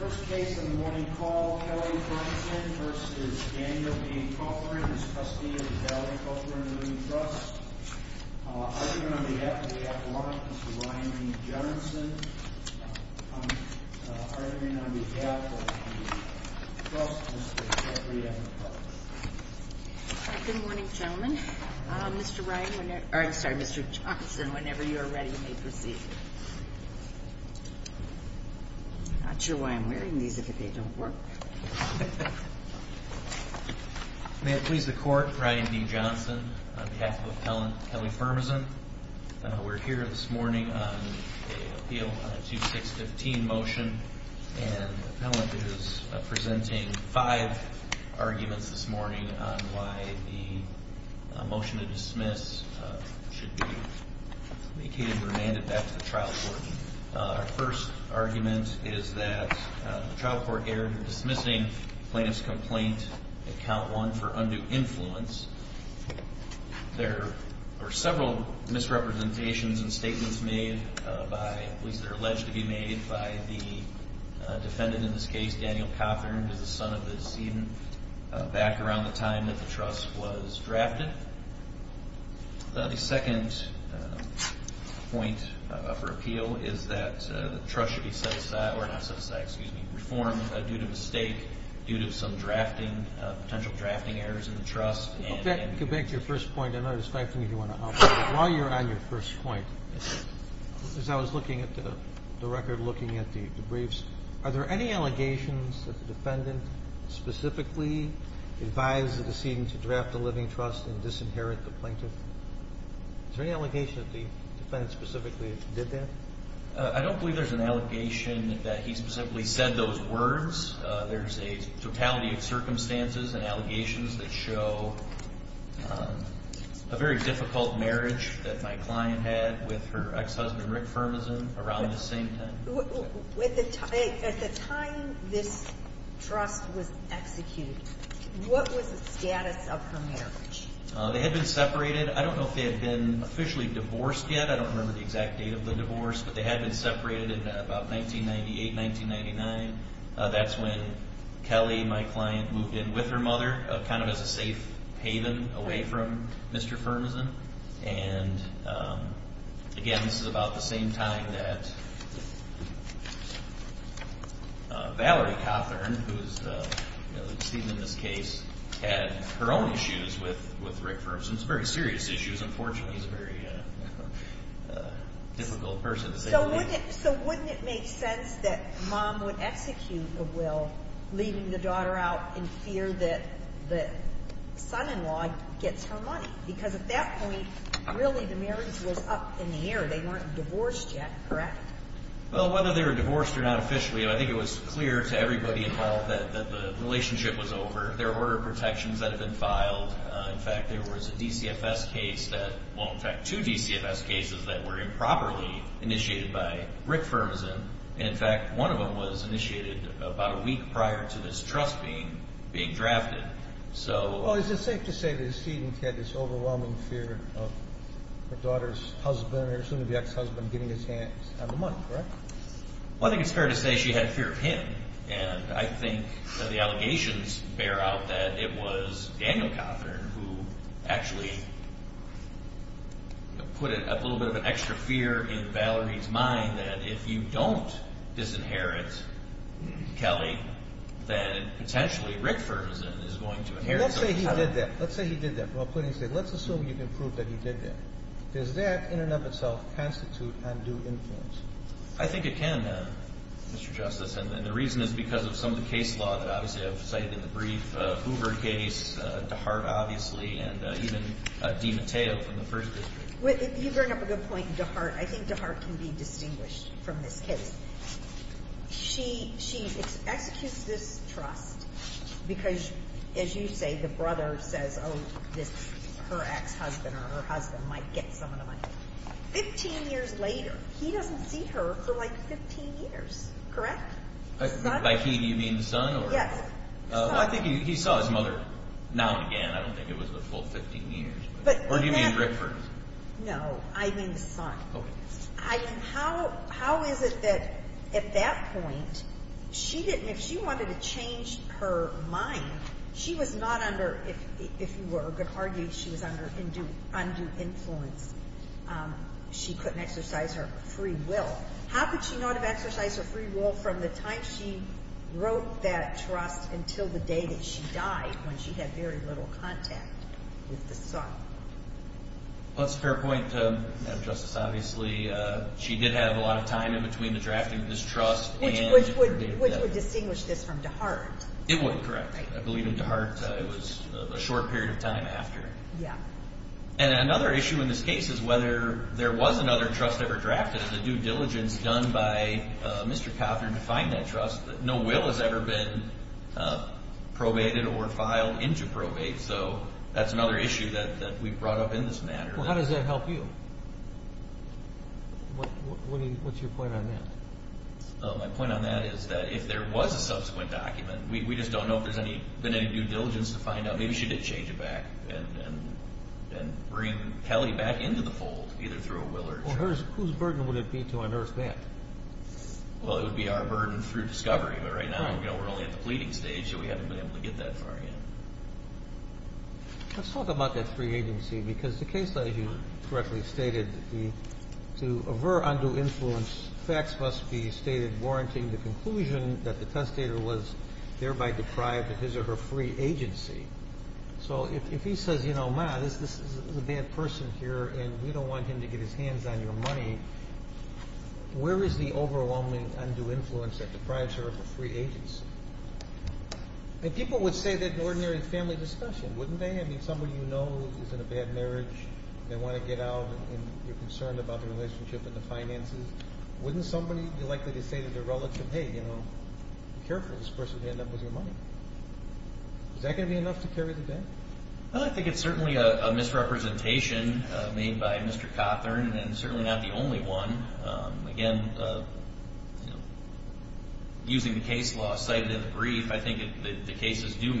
First case in the morning call, Kelly Brunson v. Daniel B. Cothern, as trustee of the Valerie Cothern Women's Trust. Argument on behalf of the Avalon, Mr. Ryan E. Johnson. Argument on behalf of the Trust, Mr. Jeffrey M. McCarty. Good morning, gentlemen. Mr. Ryan, whenever, or I'm sorry, Mr. Johnson, whenever you are ready, may proceed. Not sure why I'm wearing these if they don't work. May it please the court, Ryan D. Johnson, on behalf of appellant Kelly Firmason. We're here this morning on an appeal on a 2615 motion, and the appellant is presenting five arguments this morning on why the motion to dismiss should be vacated or remanded back to the trial court. Our first argument is that the trial court erred in dismissing plaintiff's complaint, account one, for undue influence. There are several misrepresentations and statements made by, at least they're alleged to be made by the defendant in this case, Daniel Cothern, the son of the decedent, back around the time that the trust was drafted. The second point for appeal is that the trust should be set aside, or not set aside, excuse me, reformed due to mistake, due to some drafting, potential drafting errors in the trust. Go back to your first point. I know there's five things you want to offer. While you're on your first point, as I was looking at the record, looking at the briefs, are there any allegations that the defendant specifically advised the decedent to draft a living trust and disinherit the plaintiff? Is there any allegation that the defendant specifically did that? I don't believe there's an allegation that he specifically said those words. There's a totality of circumstances and allegations that show a very difficult marriage that my client had with her ex-husband, Rick Firmason, around this same time. At the time this trust was executed, what was the status of her marriage? They had been separated. I don't know if they had been officially divorced yet. I don't remember the exact date of the divorce, but they had been separated in about 1998, 1999. That's when Kelly, my client, moved in with her mother, kind of as a safe haven away from Mr. Firmason. And, again, this is about the same time that Valerie Cothern, who is the decedent in this case, had her own issues with Rick Firmason. It's very serious issues. Unfortunately, he's a very difficult person to say the least. So wouldn't it make sense that Mom would execute the will, leaving the daughter out in fear that the son-in-law gets her money? Because at that point, really, the marriage was up in the air. They weren't divorced yet, correct? Well, whether they were divorced or not officially, I think it was clear to everybody involved that the relationship was over. There were protections that had been filed. In fact, there was a DCFS case that, well, in fact, two DCFS cases that were improperly initiated by Rick Firmason. And, in fact, one of them was initiated about a week prior to this trust being drafted. Well, is it safe to say that the decedent had this overwhelming fear of her daughter's husband or soon-to-be ex-husband getting his hands on the money, correct? Well, I think it's fair to say she had a fear of him. And I think the allegations bear out that it was Daniel Cothern who actually put a little bit of an extra fear in Valerie's mind that if you don't disinherit Kelly, then potentially Rick Firmason is going to inherit some of the time. Let's say he did that. Let's say he did that. Let's assume you can prove that he did that. Does that in and of itself constitute undue influence? I think it can, Mr. Justice. And the reason is because of some of the case law that obviously I've cited in the brief, Hoover case, DeHart, obviously, and even DiMatteo from the First District. You bring up a good point, DeHart. I think DeHart can be distinguished from this case. She executes this trust because, as you say, the brother says, oh, her ex-husband or her husband might get some of the money. Fifteen years later, he doesn't see her for, like, 15 years, correct? By he, do you mean the son? Yes. I think he saw his mother now and again. I don't think it was the full 15 years. Or do you mean Rick Firmason? No, I mean the son. Okay. How is it that at that point, she didn't, if she wanted to change her mind, she was not under, if you were going to argue, she was under undue influence, she couldn't exercise her free will. How could she not have exercised her free will from the time she wrote that trust until the day that she died, when she had very little contact with the son? That's a fair point, Madam Justice. Obviously, she did have a lot of time in between the drafting of this trust and the day of death. Which would distinguish this from DeHart. It would, correct. I believe in DeHart, it was a short period of time after. Yeah. And another issue in this case is whether there was another trust ever drafted. It's a due diligence done by Mr. Coffner to find that trust. No will has ever been probated or filed into probate. So that's another issue that we brought up in this matter. How does that help you? What's your point on that? My point on that is that if there was a subsequent document, we just don't know if there's been any due diligence to find out. Maybe she did change it back and bring Kelly back into the fold, either through a will or trust. Whose burden would it be to unearth that? Well, it would be our burden through discovery. But right now, we're only at the pleading stage, so we haven't been able to get that far yet. Let's talk about that free agency. Because the case that you correctly stated, to aver undue influence, facts must be stated warranting the conclusion that the testator was thereby deprived of his or her free agency. So if he says, you know, ma, this is a bad person here, and we don't want him to get his hands on your money, where is the overwhelming undue influence that deprives her of her free agency? And people would say that in ordinary family discussion, wouldn't they? I mean, somebody you know who's in a bad marriage, they want to get out, and you're concerned about the relationship and the finances. Wouldn't somebody be likely to say to their relative, hey, you know, be careful. This person could end up with your money. Is that going to be enough to carry the debt? Well, I think it's certainly a misrepresentation made by Mr. Cothern, and certainly not the only one. Again, using the case law cited in the brief, I think the cases do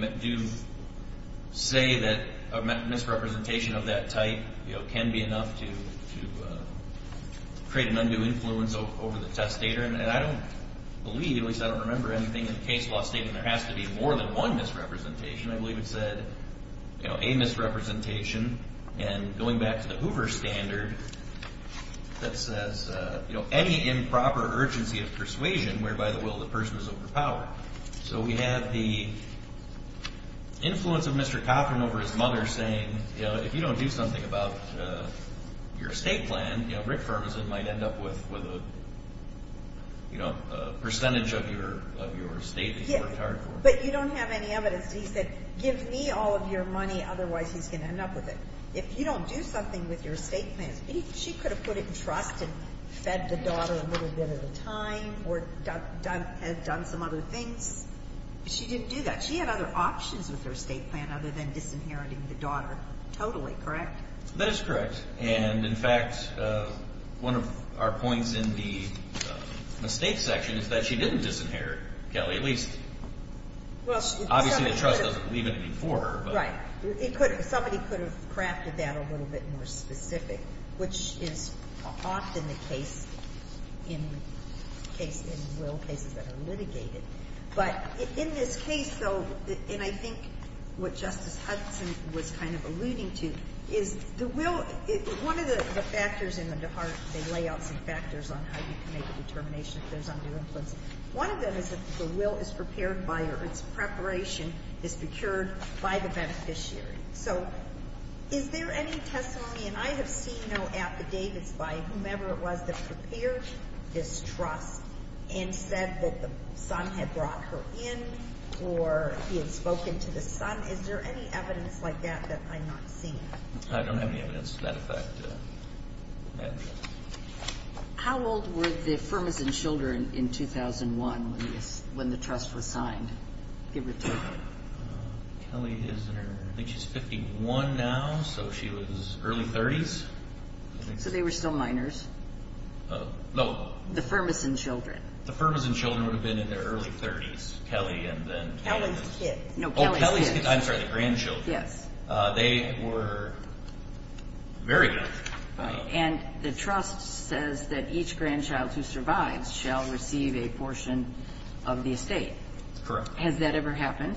say that a misrepresentation of that type, you know, can be enough to create an undue influence over the testator. And I don't believe, at least I don't remember anything in the case law stating there has to be more than one misrepresentation. I believe it said, you know, a misrepresentation. And going back to the Hoover standard that says, you know, any improper urgency of persuasion whereby the will of the person is overpowered. So we have the influence of Mr. Cothern over his mother saying, you know, if you don't do something about your estate plan, you know, percentage of your estate that you've worked hard for. But you don't have any evidence. He said, give me all of your money, otherwise he's going to end up with it. If you don't do something with your estate plans, she could have put it in trust and fed the daughter a little bit at a time or done some other things. She didn't do that. She had other options with her estate plan other than disinheriting the daughter totally, correct? That is correct. And, in fact, one of our points in the estate section is that she didn't disinherit Kelly. At least, obviously the trust doesn't leave it for her. Right. Somebody could have crafted that a little bit more specific, which is often the case in will cases that are litigated. But in this case, though, and I think what Justice Hudson was kind of alluding to, is the will, one of the factors in the DeHart, they lay out some factors on how you can make a determination if there's under influence. One of them is if the will is prepared by or its preparation is procured by the beneficiary. So is there any testimony, and I have seen no affidavits by whomever it was that prepared this trust and said that the son had brought her in or he had spoken to the son. Is there any evidence like that that I'm not seeing? I don't have any evidence to that effect. How old were the Firmas and Children in 2001 when the trust was signed? Kelly is 51 now, so she was early 30s. So they were still minors? No. The Firmas and Children? The Firmas and Children would have been in their early 30s. Kelly and then Kelly's kid. Oh, Kelly's kid. I'm sorry, the grandchildren. Yes. They were very young. And the trust says that each grandchild who survives shall receive a portion of the estate. Correct. Has that ever happened?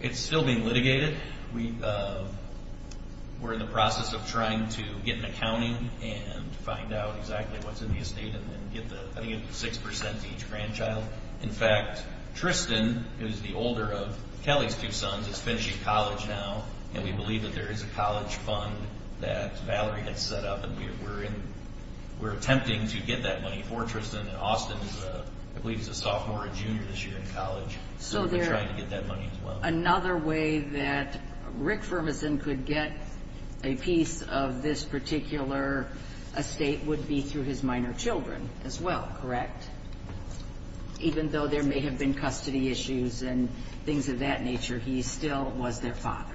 It's still being litigated. We're in the process of trying to get an accounting and find out exactly what's in the estate and then get the 6% to each grandchild. In fact, Tristan, who's the older of Kelly's two sons, is finishing college now and we believe that there is a college fund that Valerie has set up and we're attempting to get that money for Tristan. Austin, I believe, is a sophomore or junior this year in college. So we're trying to get that money as well. Another way that Rick Firmason could get a piece of this particular estate would be through his minor children as well, correct? Even though there may have been custody issues and things of that nature, he still was their father.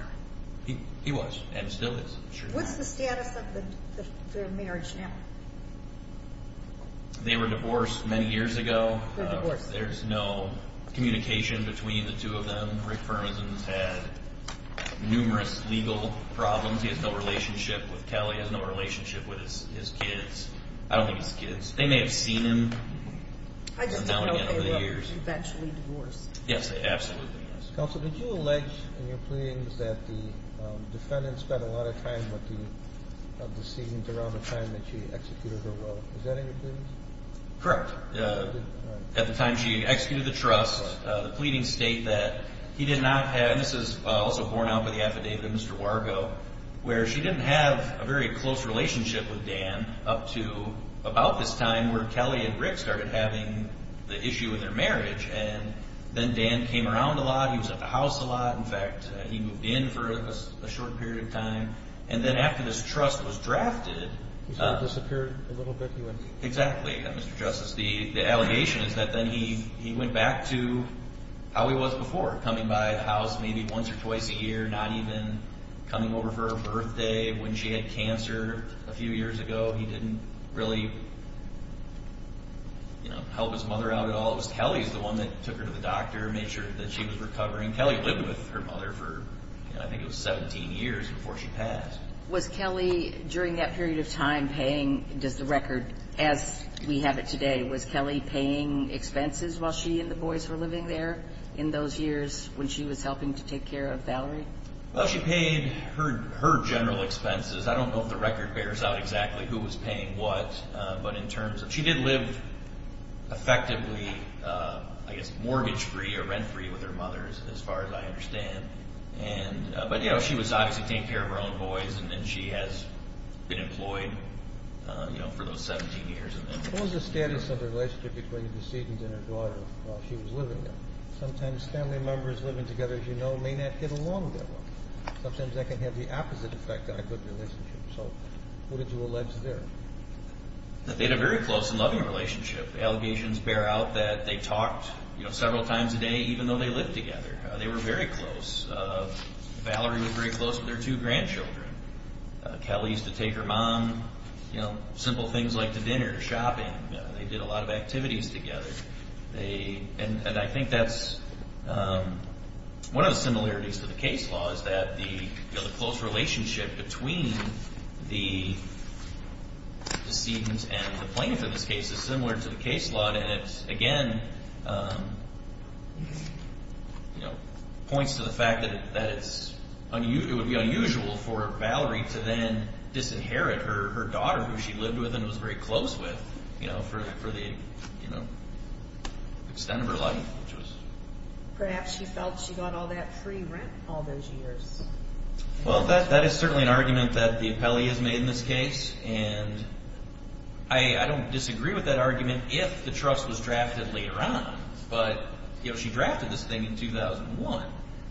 He was and still is. What's the status of their marriage now? They were divorced many years ago. There's no communication between the two of them. Rick Firmason's had numerous legal problems. He has no relationship with Kelly, has no relationship with his kids. I don't think it's kids. They may have seen him now and again over the years. I just didn't know if they were eventually divorced. Yes, they absolutely were. Counsel, did you allege in your pleadings that the defendant spent a lot of time with the decedent around the time that she executed her will? Is that in your pleadings? Correct. At the time she executed the trust, the pleadings state that he did not have and this is also borne out by the affidavit of Mr. Wargo, where she didn't have a very close relationship with Dan up to about this time where Kelly and Rick started having the issue with their marriage. Then Dan came around a lot. He was at the house a lot. In fact, he moved in for a short period of time. Then after this trust was drafted, He sort of disappeared a little bit. Exactly, Mr. Justice. The allegation is that then he went back to how he was before, coming by the house maybe once or twice a year, not even coming over for her birthday when she had cancer a few years ago. He didn't really help his mother out at all. It was Kelly's the one that took her to the doctor, made sure that she was recovering. Kelly lived with her mother for I think it was 17 years before she passed. Was Kelly during that period of time paying, does the record as we have it today, was Kelly paying expenses while she and the boys were living there in those years when she was helping to take care of Valerie? Well, she paid her general expenses. I don't know if the record bears out exactly who was paying what, but in terms of she did live effectively, I guess, mortgage-free or rent-free with her mothers as far as I understand. She was obviously taking care of her own boys, and then she has been employed for those 17 years. What was the status of the relationship between the decedent and her daughter while she was living there? Sometimes family members living together, as you know, may not get along that well. Sometimes that can have the opposite effect on a good relationship. So what did you allege there? That they had a very close and loving relationship. Allegations bear out that they talked several times a day even though they lived together. They were very close. Valerie was very close with her two grandchildren. Kelly used to take her mom, you know, simple things like to dinner, shopping. They did a lot of activities together. And I think that's one of the similarities to the case law is that the close relationship between the decedent and the plaintiff in this case is similar to the case law. And it, again, points to the fact that it would be unusual for Valerie to then disinherit her daughter who she lived with and was very close with for the extent of her life. Perhaps she felt she got all that free rent all those years. Well, that is certainly an argument that the appellee has made in this case. And I don't disagree with that argument if the trust was drafted later on. But she drafted this thing in 2001.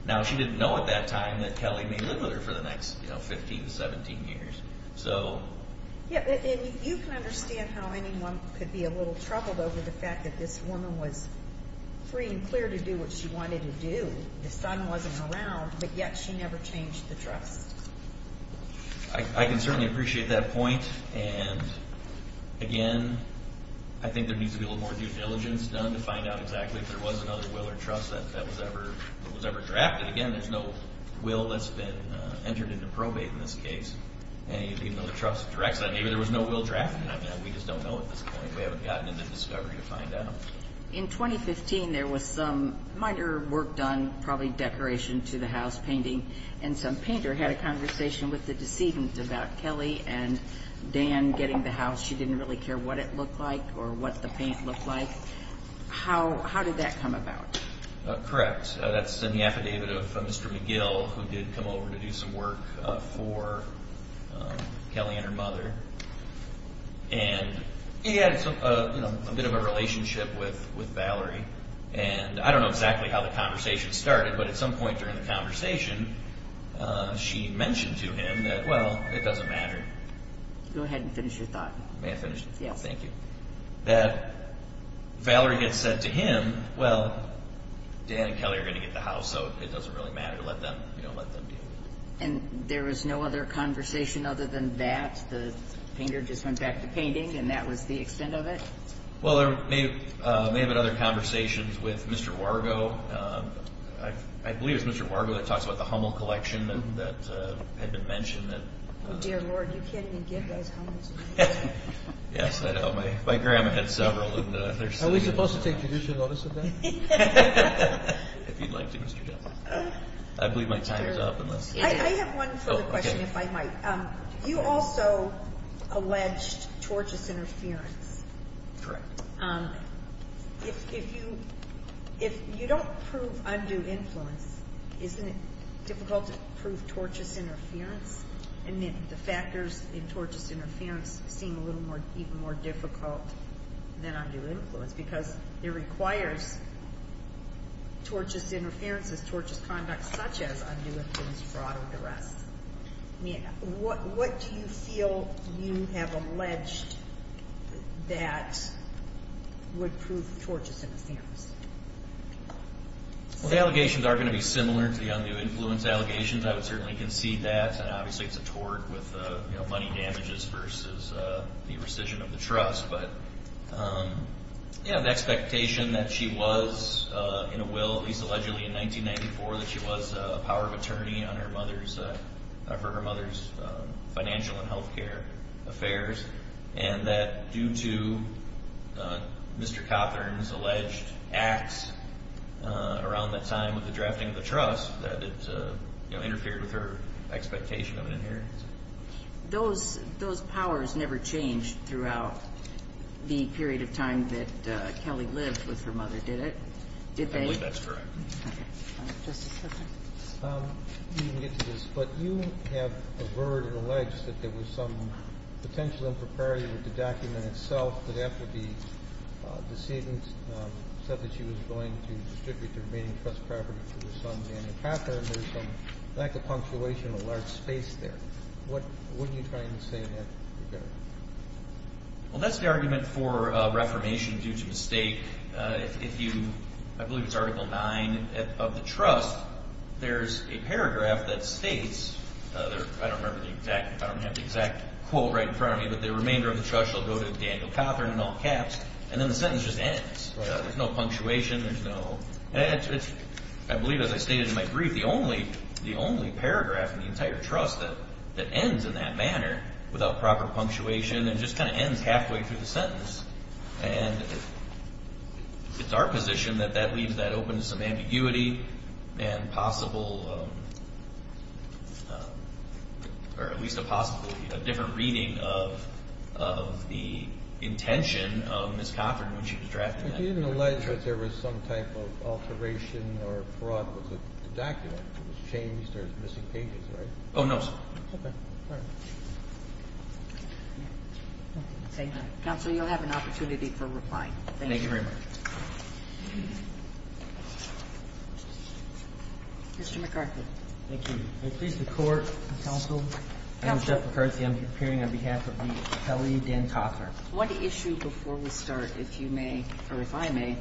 Now, she didn't know at that time that Kelly may live with her for the next 15 to 17 years. You can understand how anyone could be a little troubled over the fact that this woman was free and clear to do what she wanted to do. The son wasn't around, but yet she never changed the trust. I can certainly appreciate that point. And, again, I think there needs to be a little more due diligence done to find out exactly if there was another will or trust that was ever drafted. Again, there's no will that's been entered into probate in this case. Even though the trust directs that maybe there was no will drafted. I mean, we just don't know at this point. We haven't gotten into discovery to find out. In 2015, there was some minor work done, probably decoration to the house, painting. And some painter had a conversation with the decedent about Kelly and Dan getting the house. She didn't really care what it looked like or what the paint looked like. How did that come about? Correct. That's in the affidavit of Mr. McGill, who did come over to do some work for Kelly and her mother. And he had a bit of a relationship with Valerie. And I don't know exactly how the conversation started, but at some point during the conversation, she mentioned to him that, well, it doesn't matter. Go ahead and finish your thought. May I finish? Yes. Thank you. That Valerie had said to him, well, Dan and Kelly are going to get the house, so it doesn't really matter. Let them deal with it. And there was no other conversation other than that? The painter just went back to painting, and that was the extent of it? Well, there may have been other conversations with Mr. Wargo. I believe it was Mr. Wargo that talks about the Hummel collection that had been mentioned. Oh, dear Lord, you can't even give those Hummels. Yes, I know. My grandma had several of them. Are we supposed to take judicial notice of that? If you'd like to, Mr. Jim. I believe my time is up. I have one further question, if I might. You also alleged tortious interference. Correct. If you don't prove undue influence, isn't it difficult to prove tortious interference? And the factors in tortious interference seem a little more difficult than undue influence because it requires tortious interference as tortious conduct, such as undue influence for auto duress. What do you feel you have alleged that would prove tortious interference? The allegations are going to be similar to the undue influence allegations. I would certainly concede that. Obviously, it's a tort with money damages versus the rescission of the trust. But, yeah, the expectation that she was in a will, at least allegedly in 1994, that she was a power of attorney for her mother's financial and health care affairs and that due to Mr. Cothern's alleged acts around that time with the drafting of the trust that it, you know, interfered with her expectation of an inheritance. Those powers never changed throughout the period of time that Kelly lived with her mother, did it? I believe that's correct. Okay. Justice Sotomayor? Let me get to this. But you have averred and alleged that there was some potential impropriety with the document itself that after the decedent said that she was going to distribute the remaining trust property to her son Daniel Cothern, there's a lack of punctuation, a large space there. What are you trying to say in that regard? Well, that's the argument for reformation due to mistake. If you, I believe it's Article 9 of the trust, there's a paragraph that states, I don't remember the exact, I don't have the exact quote right in front of me, but the remainder of the trust shall go to Daniel Cothern in all caps, and then the sentence just ends. There's no punctuation. I believe, as I stated in my brief, the only paragraph in the entire trust that ends in that manner without proper punctuation and just kind of ends halfway through the sentence. And it's our position that that leaves that open to some ambiguity and possible or at least a possible different reading of the intention of Ms. Cothern when she was drafted. I didn't realize that there was some type of alteration or fraud with the document. It was changed. There's missing pages, right? Oh, no, sir. Okay. All right. Counsel, you'll have an opportunity for replying. Thank you. Thank you very much. Mr. McCarthy. Thank you. May it please the Court, counsel? Counsel. I'm Jeff McCarthy. I'm appearing on behalf of Ms. Kelly Dan Cothern. I want to issue before we start, if you may, or if I may,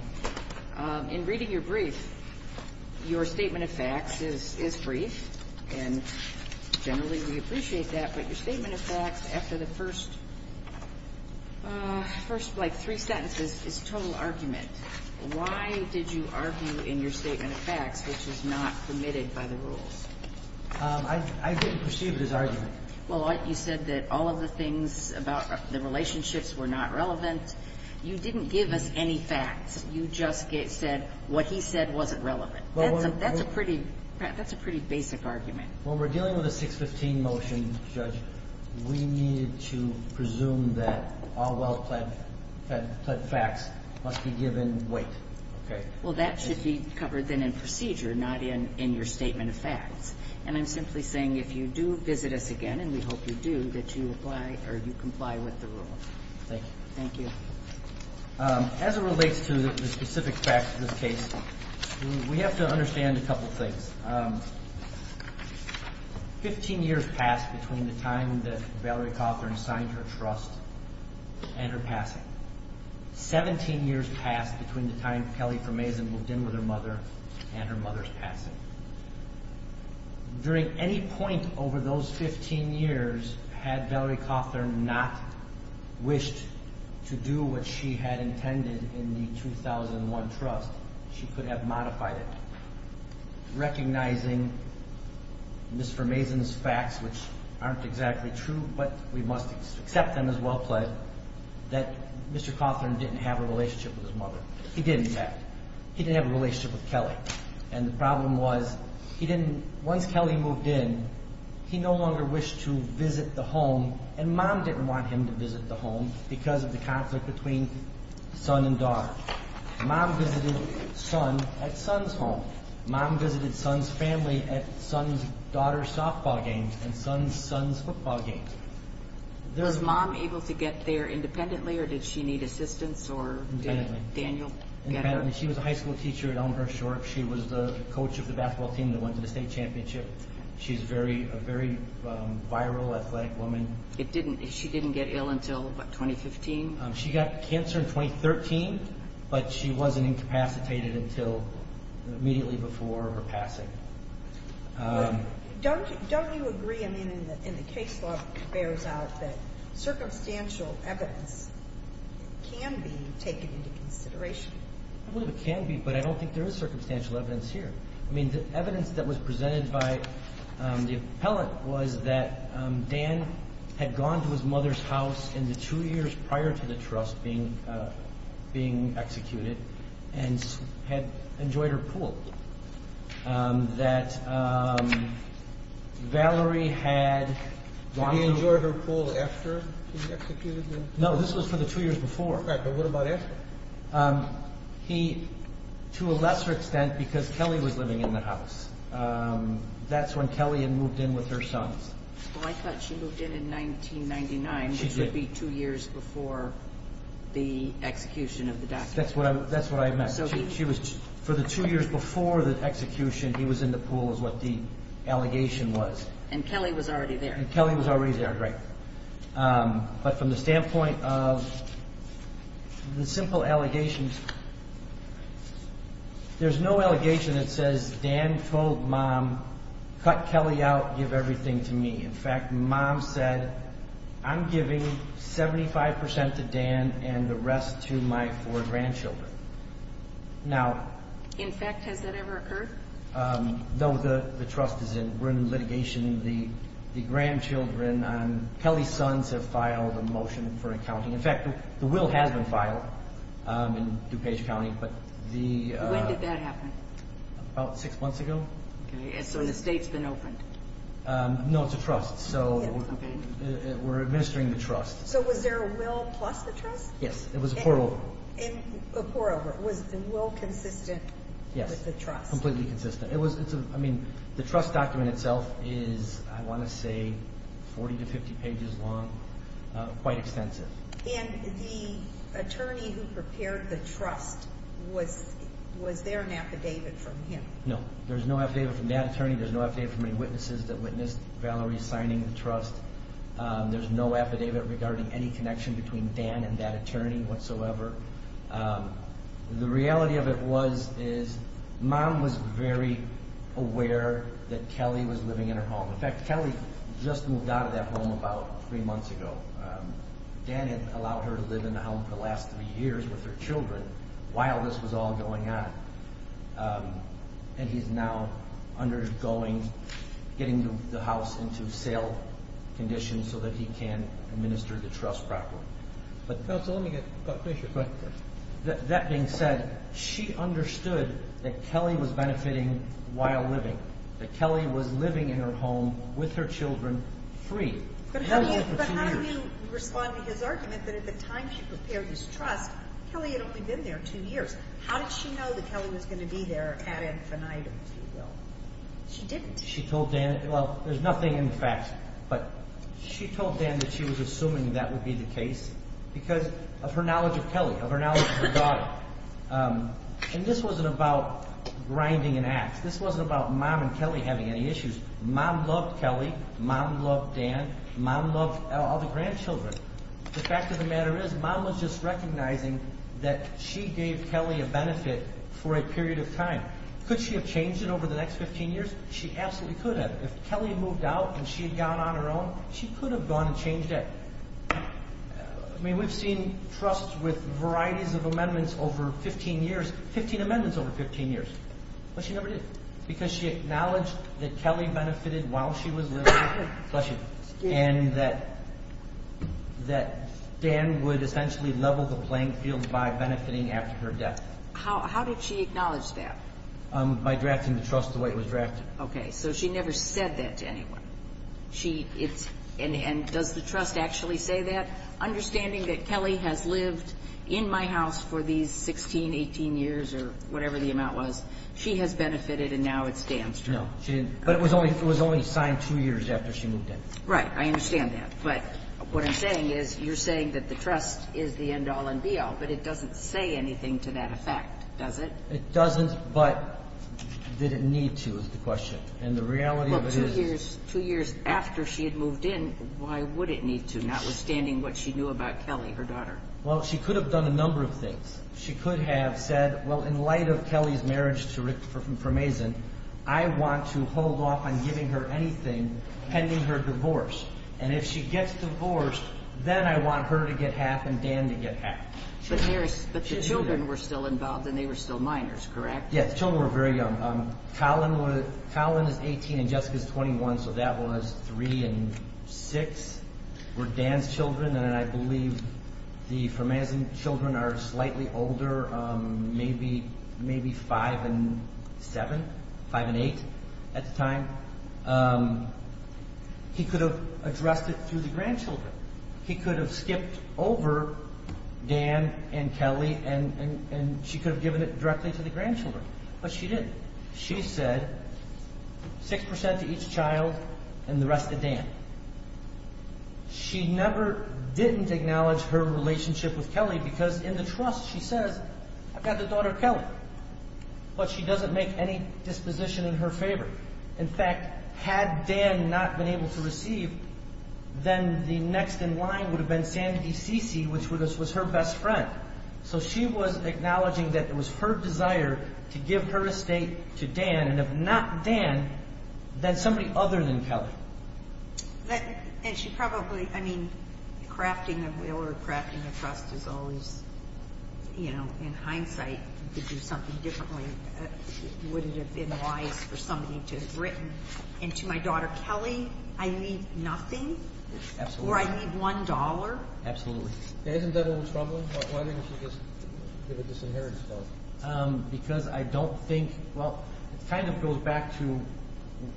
in reading your brief, your statement of facts is brief, and generally we appreciate that. But your statement of facts after the first, like, three sentences is total argument. Why did you argue in your statement of facts, which is not permitted by the rules? I didn't perceive it as argument. Well, you said that all of the things about the relationships were not relevant. You didn't give us any facts. You just said what he said wasn't relevant. That's a pretty basic argument. When we're dealing with a 615 motion, Judge, we need to presume that all well-pled facts must be given weight. Okay. Well, that should be covered then in procedure, not in your statement of facts. And I'm simply saying if you do visit us again, and we hope you do, that you comply with the rule. Thank you. Thank you. As it relates to the specific facts of this case, we have to understand a couple things. Fifteen years passed between the time that Valerie Cothern signed her trust and her passing. Seventeen years passed between the time Kelly Formazan moved in with her mother and her mother's passing. During any point over those 15 years, had Valerie Cothern not wished to do what she had intended in the 2001 trust, she could have modified it, recognizing Ms. Formazan's facts, which aren't exactly true, but we must accept them as well-pled, that Mr. Cothern didn't have a relationship with his mother. He didn't, in fact. He didn't have a relationship with Kelly. And the problem was, once Kelly moved in, he no longer wished to visit the home, and Mom didn't want him to visit the home because of the conflict between son and daughter. Mom visited son at son's home. Mom visited son's family at son's daughter's softball games and son's son's football games. Was Mom able to get there independently, or did she need assistance, or did Daniel get her? Independently. She was a high school teacher at Elmhurst Shorts. She was the coach of the basketball team that went to the state championship. She's a very viral athletic woman. She didn't get ill until, what, 2015? She got cancer in 2013, but she wasn't incapacitated until immediately before her passing. Don't you agree, I mean, and the case law bears out that circumstantial evidence can be taken into consideration? I believe it can be, but I don't think there is circumstantial evidence here. I mean, the evidence that was presented by the appellant was that Dan had gone to his mother's house in the two years prior to the trust being executed and had enjoyed her pool. That Valerie had gone to... Did he enjoy her pool after she was executed? No, this was for the two years before. Right, but what about after? He, to a lesser extent, because Kelly was living in the house. That's when Kelly had moved in with her sons. Well, I thought she moved in in 1999, which would be two years before the execution of the documents. That's what I meant. For the two years before the execution, he was in the pool is what the allegation was. And Kelly was already there. And Kelly was already there, right. But from the standpoint of the simple allegations, there's no allegation that says, if Dan told Mom, cut Kelly out, give everything to me. In fact, Mom said, I'm giving 75% to Dan and the rest to my four grandchildren. In fact, has that ever occurred? No, the trust is in litigation. The grandchildren, Kelly's sons have filed a motion for accounting. In fact, the will has been filed in DuPage County. When did that happen? About six months ago. And so the state's been opened? No, it's a trust. So we're administering the trust. So was there a will plus the trust? Yes, it was a pour over. A pour over. Was the will consistent with the trust? Yes, completely consistent. I mean, the trust document itself is, I want to say, 40 to 50 pages long, quite extensive. And the attorney who prepared the trust, was there an affidavit from him? No, there's no affidavit from that attorney. There's no affidavit from any witnesses that witnessed Valerie signing the trust. There's no affidavit regarding any connection between Dan and that attorney whatsoever. The reality of it was is Mom was very aware that Kelly was living in her home. In fact, Kelly just moved out of that home about three months ago. Dan had allowed her to live in the home for the last three years with her children while this was all going on. And he's now undergoing getting the house into sale condition so that he can administer the trust properly. Counsel, let me get Buck Fisher. Go ahead. That being said, she understood that Kelly was benefiting while living. That Kelly was living in her home with her children, free. But how do you respond to his argument that at the time she prepared this trust, Kelly had only been there two years? How did she know that Kelly was going to be there ad infinitum, if you will? She didn't. She told Dan, well, there's nothing in the facts, but she told Dan that she was assuming that would be the case because of her knowledge of Kelly, of her knowledge of her daughter. And this wasn't about grinding an ax. This wasn't about Mom and Kelly having any issues. Mom loved Kelly. Mom loved Dan. Mom loved all the grandchildren. The fact of the matter is Mom was just recognizing that she gave Kelly a benefit for a period of time. Could she have changed it over the next 15 years? She absolutely could have. If Kelly moved out and she had gone on her own, she could have gone and changed it. I mean, we've seen trusts with varieties of amendments over 15 years, 15 amendments over 15 years. But she never did because she acknowledged that Kelly benefited while she was there. Bless you. And that Dan would essentially level the playing field by benefiting after her death. How did she acknowledge that? By drafting the trust the way it was drafted. Okay. So she never said that to anyone. And does the trust actually say that? Understanding that Kelly has lived in my house for these 16, 18 years or whatever the amount was, she has benefited and now it's Dan's turn. No. But it was only signed two years after she moved in. Right. I understand that. But what I'm saying is you're saying that the trust is the end-all and be-all, but it doesn't say anything to that effect, does it? It doesn't, but did it need to is the question. Well, she could have done a number of things. She could have said, well, in light of Kelly's marriage to Rick Formazan, I want to hold off on giving her anything pending her divorce. And if she gets divorced, then I want her to get half and Dan to get half. But the children were still involved and they were still minors, correct? Yes, the children were very young. Colin is 18 and Jessica is 21, so that was three and six were Dan's children. And I believe the Formazan children are slightly older, maybe five and seven, five and eight at the time. He could have addressed it through the grandchildren. He could have skipped over Dan and Kelly, and she could have given it directly to the grandchildren. But she didn't. She said 6% to each child and the rest to Dan. She never didn't acknowledge her relationship with Kelly, because in the trust she says, I've got the daughter Kelly. But she doesn't make any disposition in her favor. In fact, had Dan not been able to receive, then the next in line would have been Sandy Cici, which was her best friend. So she was acknowledging that it was her desire to give her estate to Dan, and if not Dan, then somebody other than Kelly. And she probably, I mean, crafting a will or crafting a trust is always, you know, in hindsight, you could do something differently. Would it have been wise for somebody to have written, and to my daughter Kelly, I need nothing? Absolutely. Or I need one dollar? Absolutely. That isn't that what was troubling. Why didn't she just give a disinheritance vote? Because I don't think, well, it kind of goes back to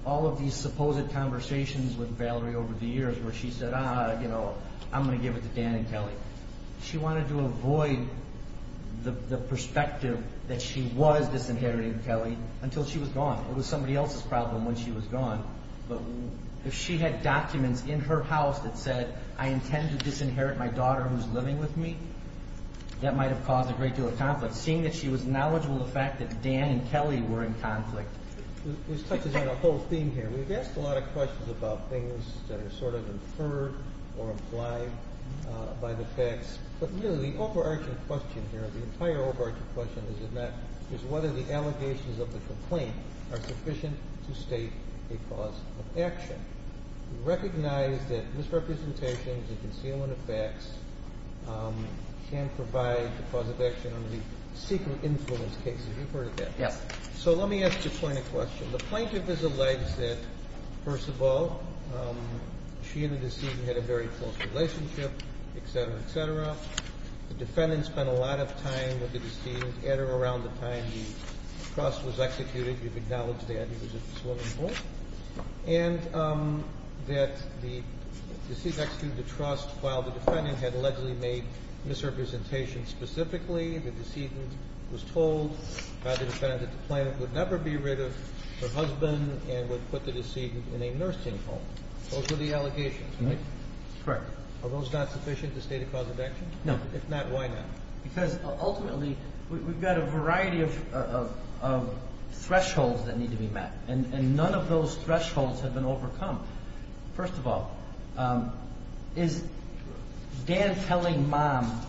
all of these supposed conversations with Valerie over the years where she said, ah, you know, I'm going to give it to Dan and Kelly. She wanted to avoid the perspective that she was disinheriting Kelly until she was gone. It was somebody else's problem when she was gone. But if she had documents in her house that said, I intend to disinherit my daughter who's living with me, that might have caused a great deal of conflict. Seeing that she was knowledgeable of the fact that Dan and Kelly were in conflict. This touches on a whole theme here. We've asked a lot of questions about things that are sort of inferred or implied by the facts. But really, the overarching question here, the entire overarching question is whether the allegations of the complaint are sufficient to state a cause of action. We recognize that misrepresentations and concealment of facts can provide a cause of action under the secret influence case. Have you heard of that? Yes. So let me ask you a point of question. The plaintiff has alleged that, first of all, she and the decedent had a very close relationship, et cetera, et cetera. The defendant spent a lot of time with the decedent at or around the time the trust was executed. You've acknowledged that. And that the decedent executed the trust while the defendant had allegedly made misrepresentations specifically. The decedent was told by the defendant that the plaintiff would never be rid of her husband and would put the decedent in a nursing home. Those were the allegations, right? Correct. Are those not sufficient to state a cause of action? If not, why not? Because ultimately, we've got a variety of thresholds that need to be met, and none of those thresholds have been overcome. First of all, is Dan telling Mom,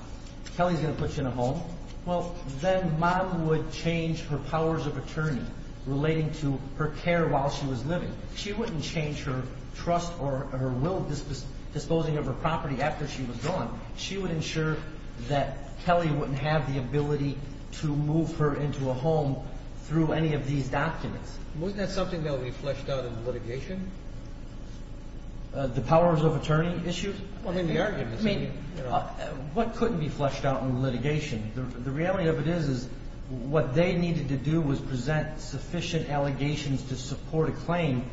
Kelly's going to put you in a home? Well, then Mom would change her powers of attorney relating to her care while she was living. She wouldn't change her trust or her will disposing of her property after she was gone. She would ensure that Kelly wouldn't have the ability to move her into a home through any of these documents. Wasn't that something that would be fleshed out in the litigation? The powers of attorney issue? I mean, the arguments. I mean, what couldn't be fleshed out in the litigation? The reality of it is is what they needed to do was present sufficient allegations to support a claim,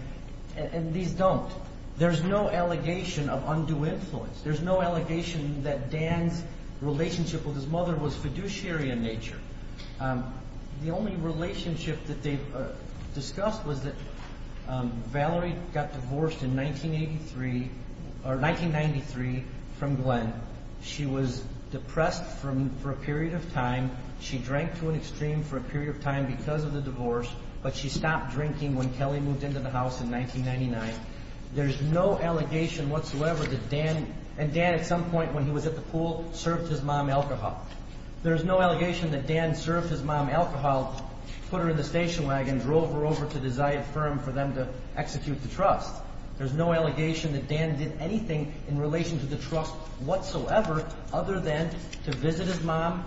and these don't. There's no allegation of undue influence. There's no allegation that Dan's relationship with his mother was fiduciary in nature. The only relationship that they discussed was that Valerie got divorced in 1983 or 1993 from Glenn. She was depressed for a period of time. She drank to an extreme for a period of time because of the divorce, but she stopped drinking when Kelly moved into the house in 1999. There's no allegation whatsoever that Dan, and Dan at some point when he was at the pool, served his mom alcohol. There's no allegation that Dan served his mom alcohol, put her in the station wagon, drove her over to the Zion firm for them to execute the trust. There's no allegation that Dan did anything in relation to the trust whatsoever other than to visit his mom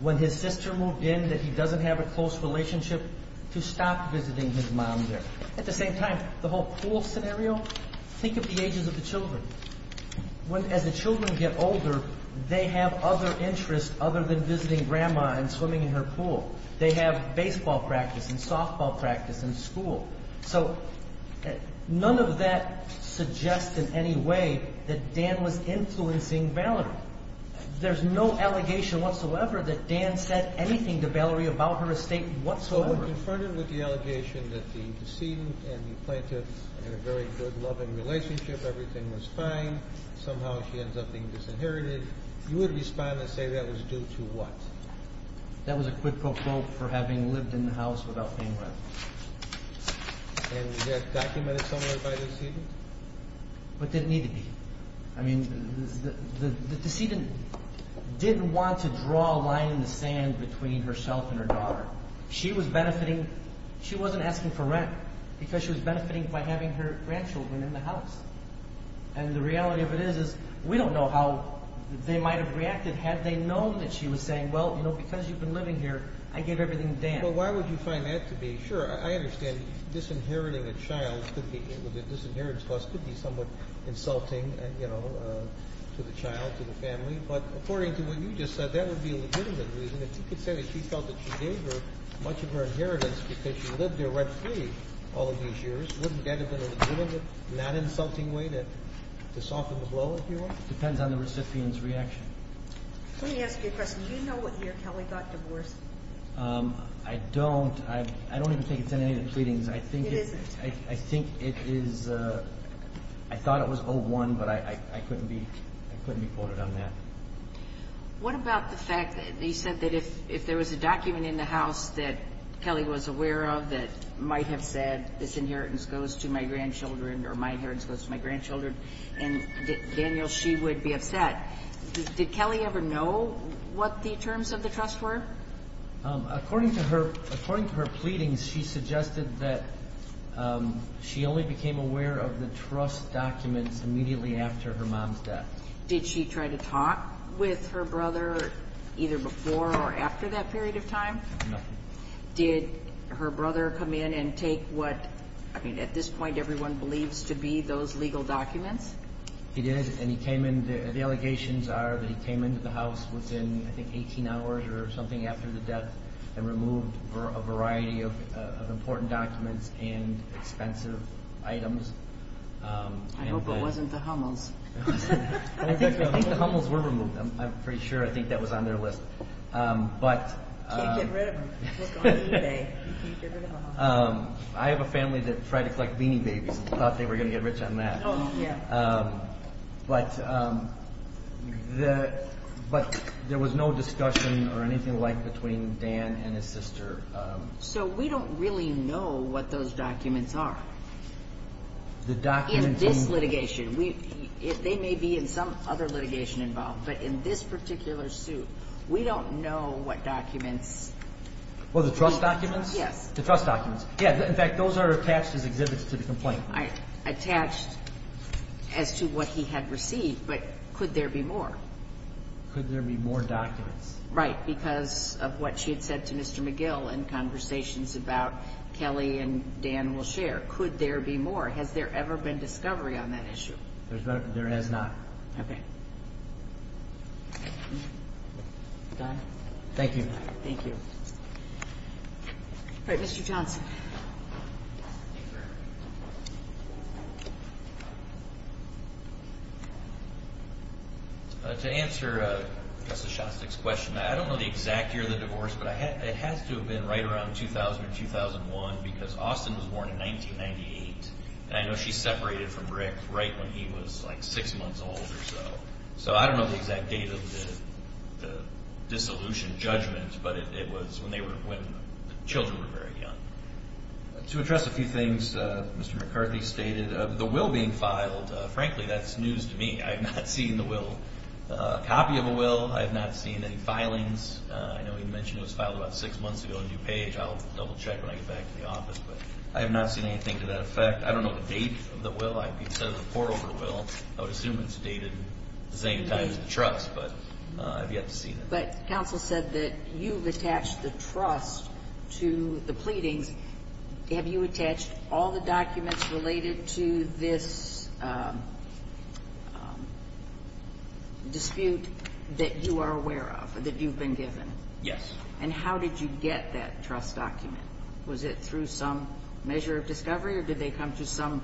when his sister moved in, that he doesn't have a close relationship, to stop visiting his mom there. At the same time, the whole pool scenario, think of the ages of the children. As the children get older, they have other interests other than visiting grandma and swimming in her pool. They have baseball practice and softball practice and school. So none of that suggests in any way that Dan was influencing Valerie. There's no allegation whatsoever that Dan said anything to Valerie about her estate whatsoever. So when confronted with the allegation that the decedent and the plaintiff had a very good loving relationship, everything was fine, somehow she ends up being disinherited, you would respond and say that was due to what? That was a quid pro quo for having lived in the house without paying rent. And was that documented somewhere by the decedent? It didn't need to be. The decedent didn't want to draw a line in the sand between herself and her daughter. She wasn't asking for rent because she was benefiting by having her grandchildren in the house. And the reality of it is we don't know how they might have reacted had they known that she was saying, well, because you've been living here, I gave everything to Dan. Well, why would you find that to be? Sure, I understand disinheriting a child with a disinheritance clause could be somewhat insulting to the child, to the family. But according to what you just said, that would be a legitimate reason. If you could say that she felt that she gave her much of her inheritance because she lived there rent-free all of these years, wouldn't that have been a legitimate, not insulting way to soften the blow, if you will? It depends on the recipient's reaction. Let me ask you a question. Do you know whether your Kelly got divorced? I don't. I don't even think it's in any of the pleadings. It isn't. I think it is. I thought it was 01, but I couldn't be quoted on that. What about the fact that you said that if there was a document in the house that Kelly was aware of that might have said disinheritance goes to my grandchildren or my inheritance goes to my grandchildren, and, Daniel, she would be upset, did Kelly ever know what the terms of the trust were? According to her pleadings, she suggested that she only became aware of the trust documents immediately after her mom's death. Did she try to talk with her brother either before or after that period of time? No. Did her brother come in and take what, I mean, at this point everyone believes to be those legal documents? He did, and he came in. The allegations are that he came into the house within, I think, 18 hours or something after the death and removed a variety of important documents and expensive items. I hope it wasn't the Hummels. I think the Hummels were removed. I'm pretty sure. I think that was on their list. You can't get rid of them. I have a family that tried to collect beanie babies and thought they were going to get rich on that. Oh, yeah. But there was no discussion or anything like between Dan and his sister. So we don't really know what those documents are. In this litigation, they may be in some other litigation involved, but in this particular suit, we don't know what documents. Oh, the trust documents? Yes. The trust documents. Yeah, in fact, those are attached as exhibits to the complaint. Attached as to what he had received, but could there be more? Could there be more documents? Right, because of what she had said to Mr. McGill in conversations about Kelly and Dan will share. Could there be more? Has there ever been discovery on that issue? There has not. Okay. Thank you. Thank you. All right, Mr. Johnson. Thank you very much. To answer Justice Shostak's question, I don't know the exact year of the divorce, but it has to have been right around 2000 or 2001, because Austin was born in 1998, and I know she separated from Rick right when he was like six months old or so. So I don't know the exact date of the dissolution judgment, but it was when the children were very young. To address a few things Mr. McCarthy stated, the will being filed, frankly, that's news to me. I have not seen the will, a copy of a will. I have not seen any filings. I know he mentioned it was filed about six months ago in DuPage. I'll double-check when I get back to the office, but I have not seen anything to that effect. I don't know the date of the will. I would assume it's dated the same time as the trust, but I've yet to see that. But counsel said that you've attached the trust to the pleadings. Have you attached all the documents related to this dispute that you are aware of, that you've been given? Yes. And how did you get that trust document? Was it through some measure of discovery, or did they come to some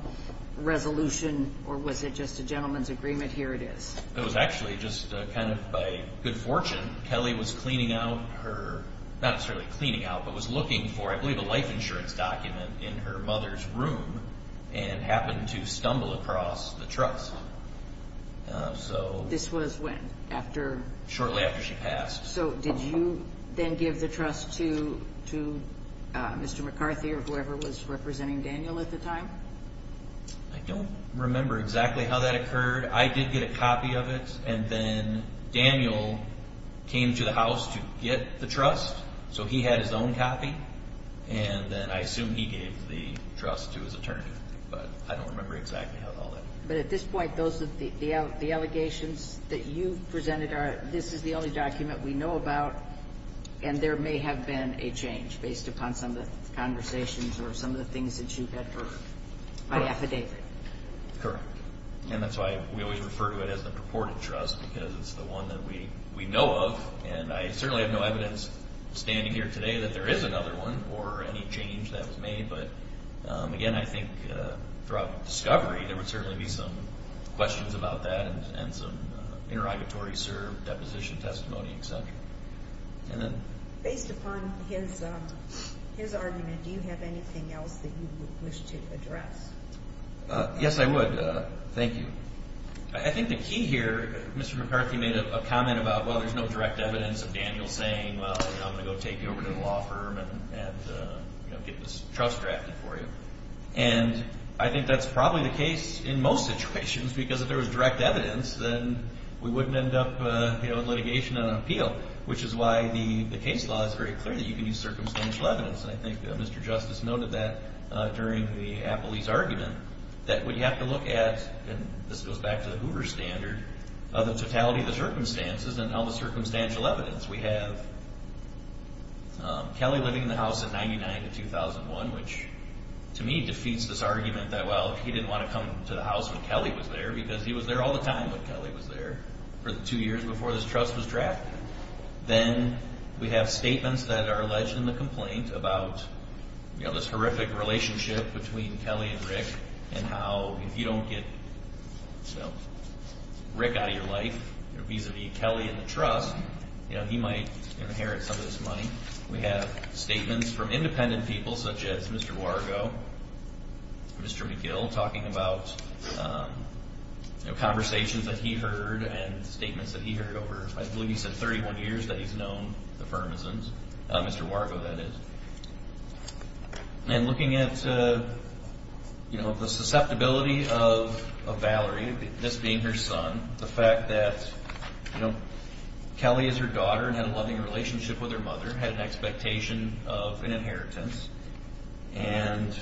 resolution, or was it just a gentleman's agreement? Here it is. It was actually just kind of by good fortune. Kelly was cleaning out her—not necessarily cleaning out, but was looking for, I believe, a life insurance document in her mother's room and happened to stumble across the trust. This was when? Shortly after she passed. So did you then give the trust to Mr. McCarthy or whoever was representing Daniel at the time? I don't remember exactly how that occurred. I did get a copy of it, and then Daniel came to the house to get the trust, so he had his own copy, and then I assume he gave the trust to his attorney. But I don't remember exactly how all that— But at this point, those are the allegations that you've presented are this is the only document we know about, and there may have been a change based upon some of the conversations or some of the things that you've had heard by affidavit. Correct. And that's why we always refer to it as the purported trust because it's the one that we know of, and I certainly have no evidence standing here today that there is another one or any change that was made. But, again, I think throughout discovery, there would certainly be some questions about that and some interrogatory serve, deposition, testimony, et cetera. Based upon his argument, do you have anything else that you would wish to address? Yes, I would. Thank you. I think the key here, Mr. McCarthy made a comment about, well, there's no direct evidence of Daniel saying, well, I'm going to go take you over to the law firm and get this trust drafted for you. And I think that's probably the case in most situations because if there was direct evidence, then we wouldn't end up in litigation and an appeal, which is why the case law is very clear that you can use circumstantial evidence. And I think Mr. Justice noted that during the Appleby's argument that we have to look at, and this goes back to the Hoover standard, the totality of the circumstances and all the circumstantial evidence we have. Kelly living in the house in 1999 to 2001, which to me defeats this argument that, well, he didn't want to come to the house when Kelly was there because he was there all the time when Kelly was there for the two years before this trust was drafted. Then we have statements that are alleged in the complaint about this horrific relationship between Kelly and Rick and how if you don't get Rick out of your life vis-a-vis Kelly and the trust, he might inherit some of this money. We have statements from independent people such as Mr. Wargo, Mr. McGill, talking about conversations that he heard and statements that he heard over, I believe he said, 31 years that he's known the Firmizons, Mr. Wargo, that is. And looking at the susceptibility of Valerie, this being her son, the fact that Kelly is her daughter and had a loving relationship with her mother, had an expectation of an inheritance, and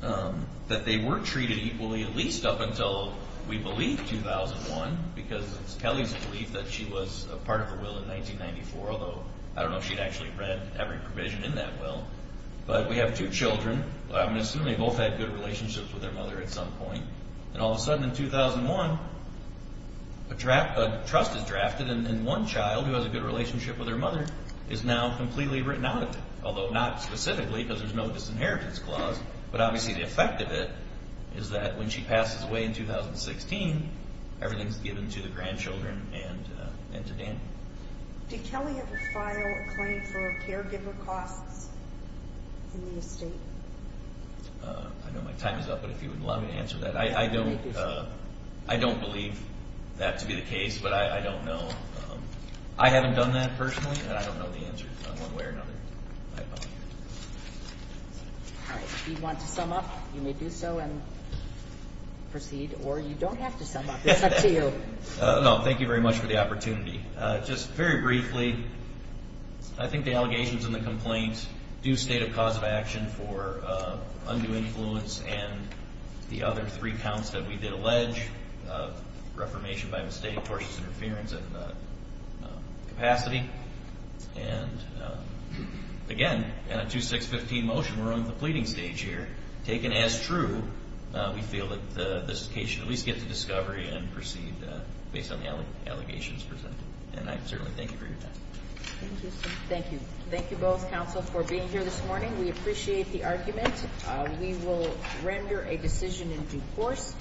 that they weren't treated equally at least up until, we believe, 2001 because it's Kelly's belief that she was a part of the will in 1994, although I don't know if she'd actually read every provision in that will. But we have two children. I'm assuming they both had good relationships with their mother at some point. And all of a sudden in 2001, a trust is drafted and one child who has a good relationship with her mother is now completely written out of it, although not specifically because there's no disinheritance clause. But obviously the effect of it is that when she passes away in 2016, everything's given to the grandchildren and to Danny. Did Kelly ever file a claim for caregiver costs in the estate? I know my time is up, but if you would allow me to answer that. I don't believe that to be the case, but I don't know. I haven't done that personally, and I don't know the answer one way or another. All right. If you want to sum up, you may do so and proceed. Or you don't have to sum up. It's up to you. No, thank you very much for the opportunity. Just very briefly, I think the allegations in the complaint do state a cause of action for undue influence and the other three counts that we did allege, reformation by mistake, tortious interference, and capacity. And again, in a 2-6-15 motion, we're on the pleading stage here. Taken as true, we feel that this case should at least get to discovery and proceed based on the allegations presented. And I certainly thank you for your time. Thank you. Thank you both, counsel, for being here this morning. We appreciate the argument. We will render a decision in due course.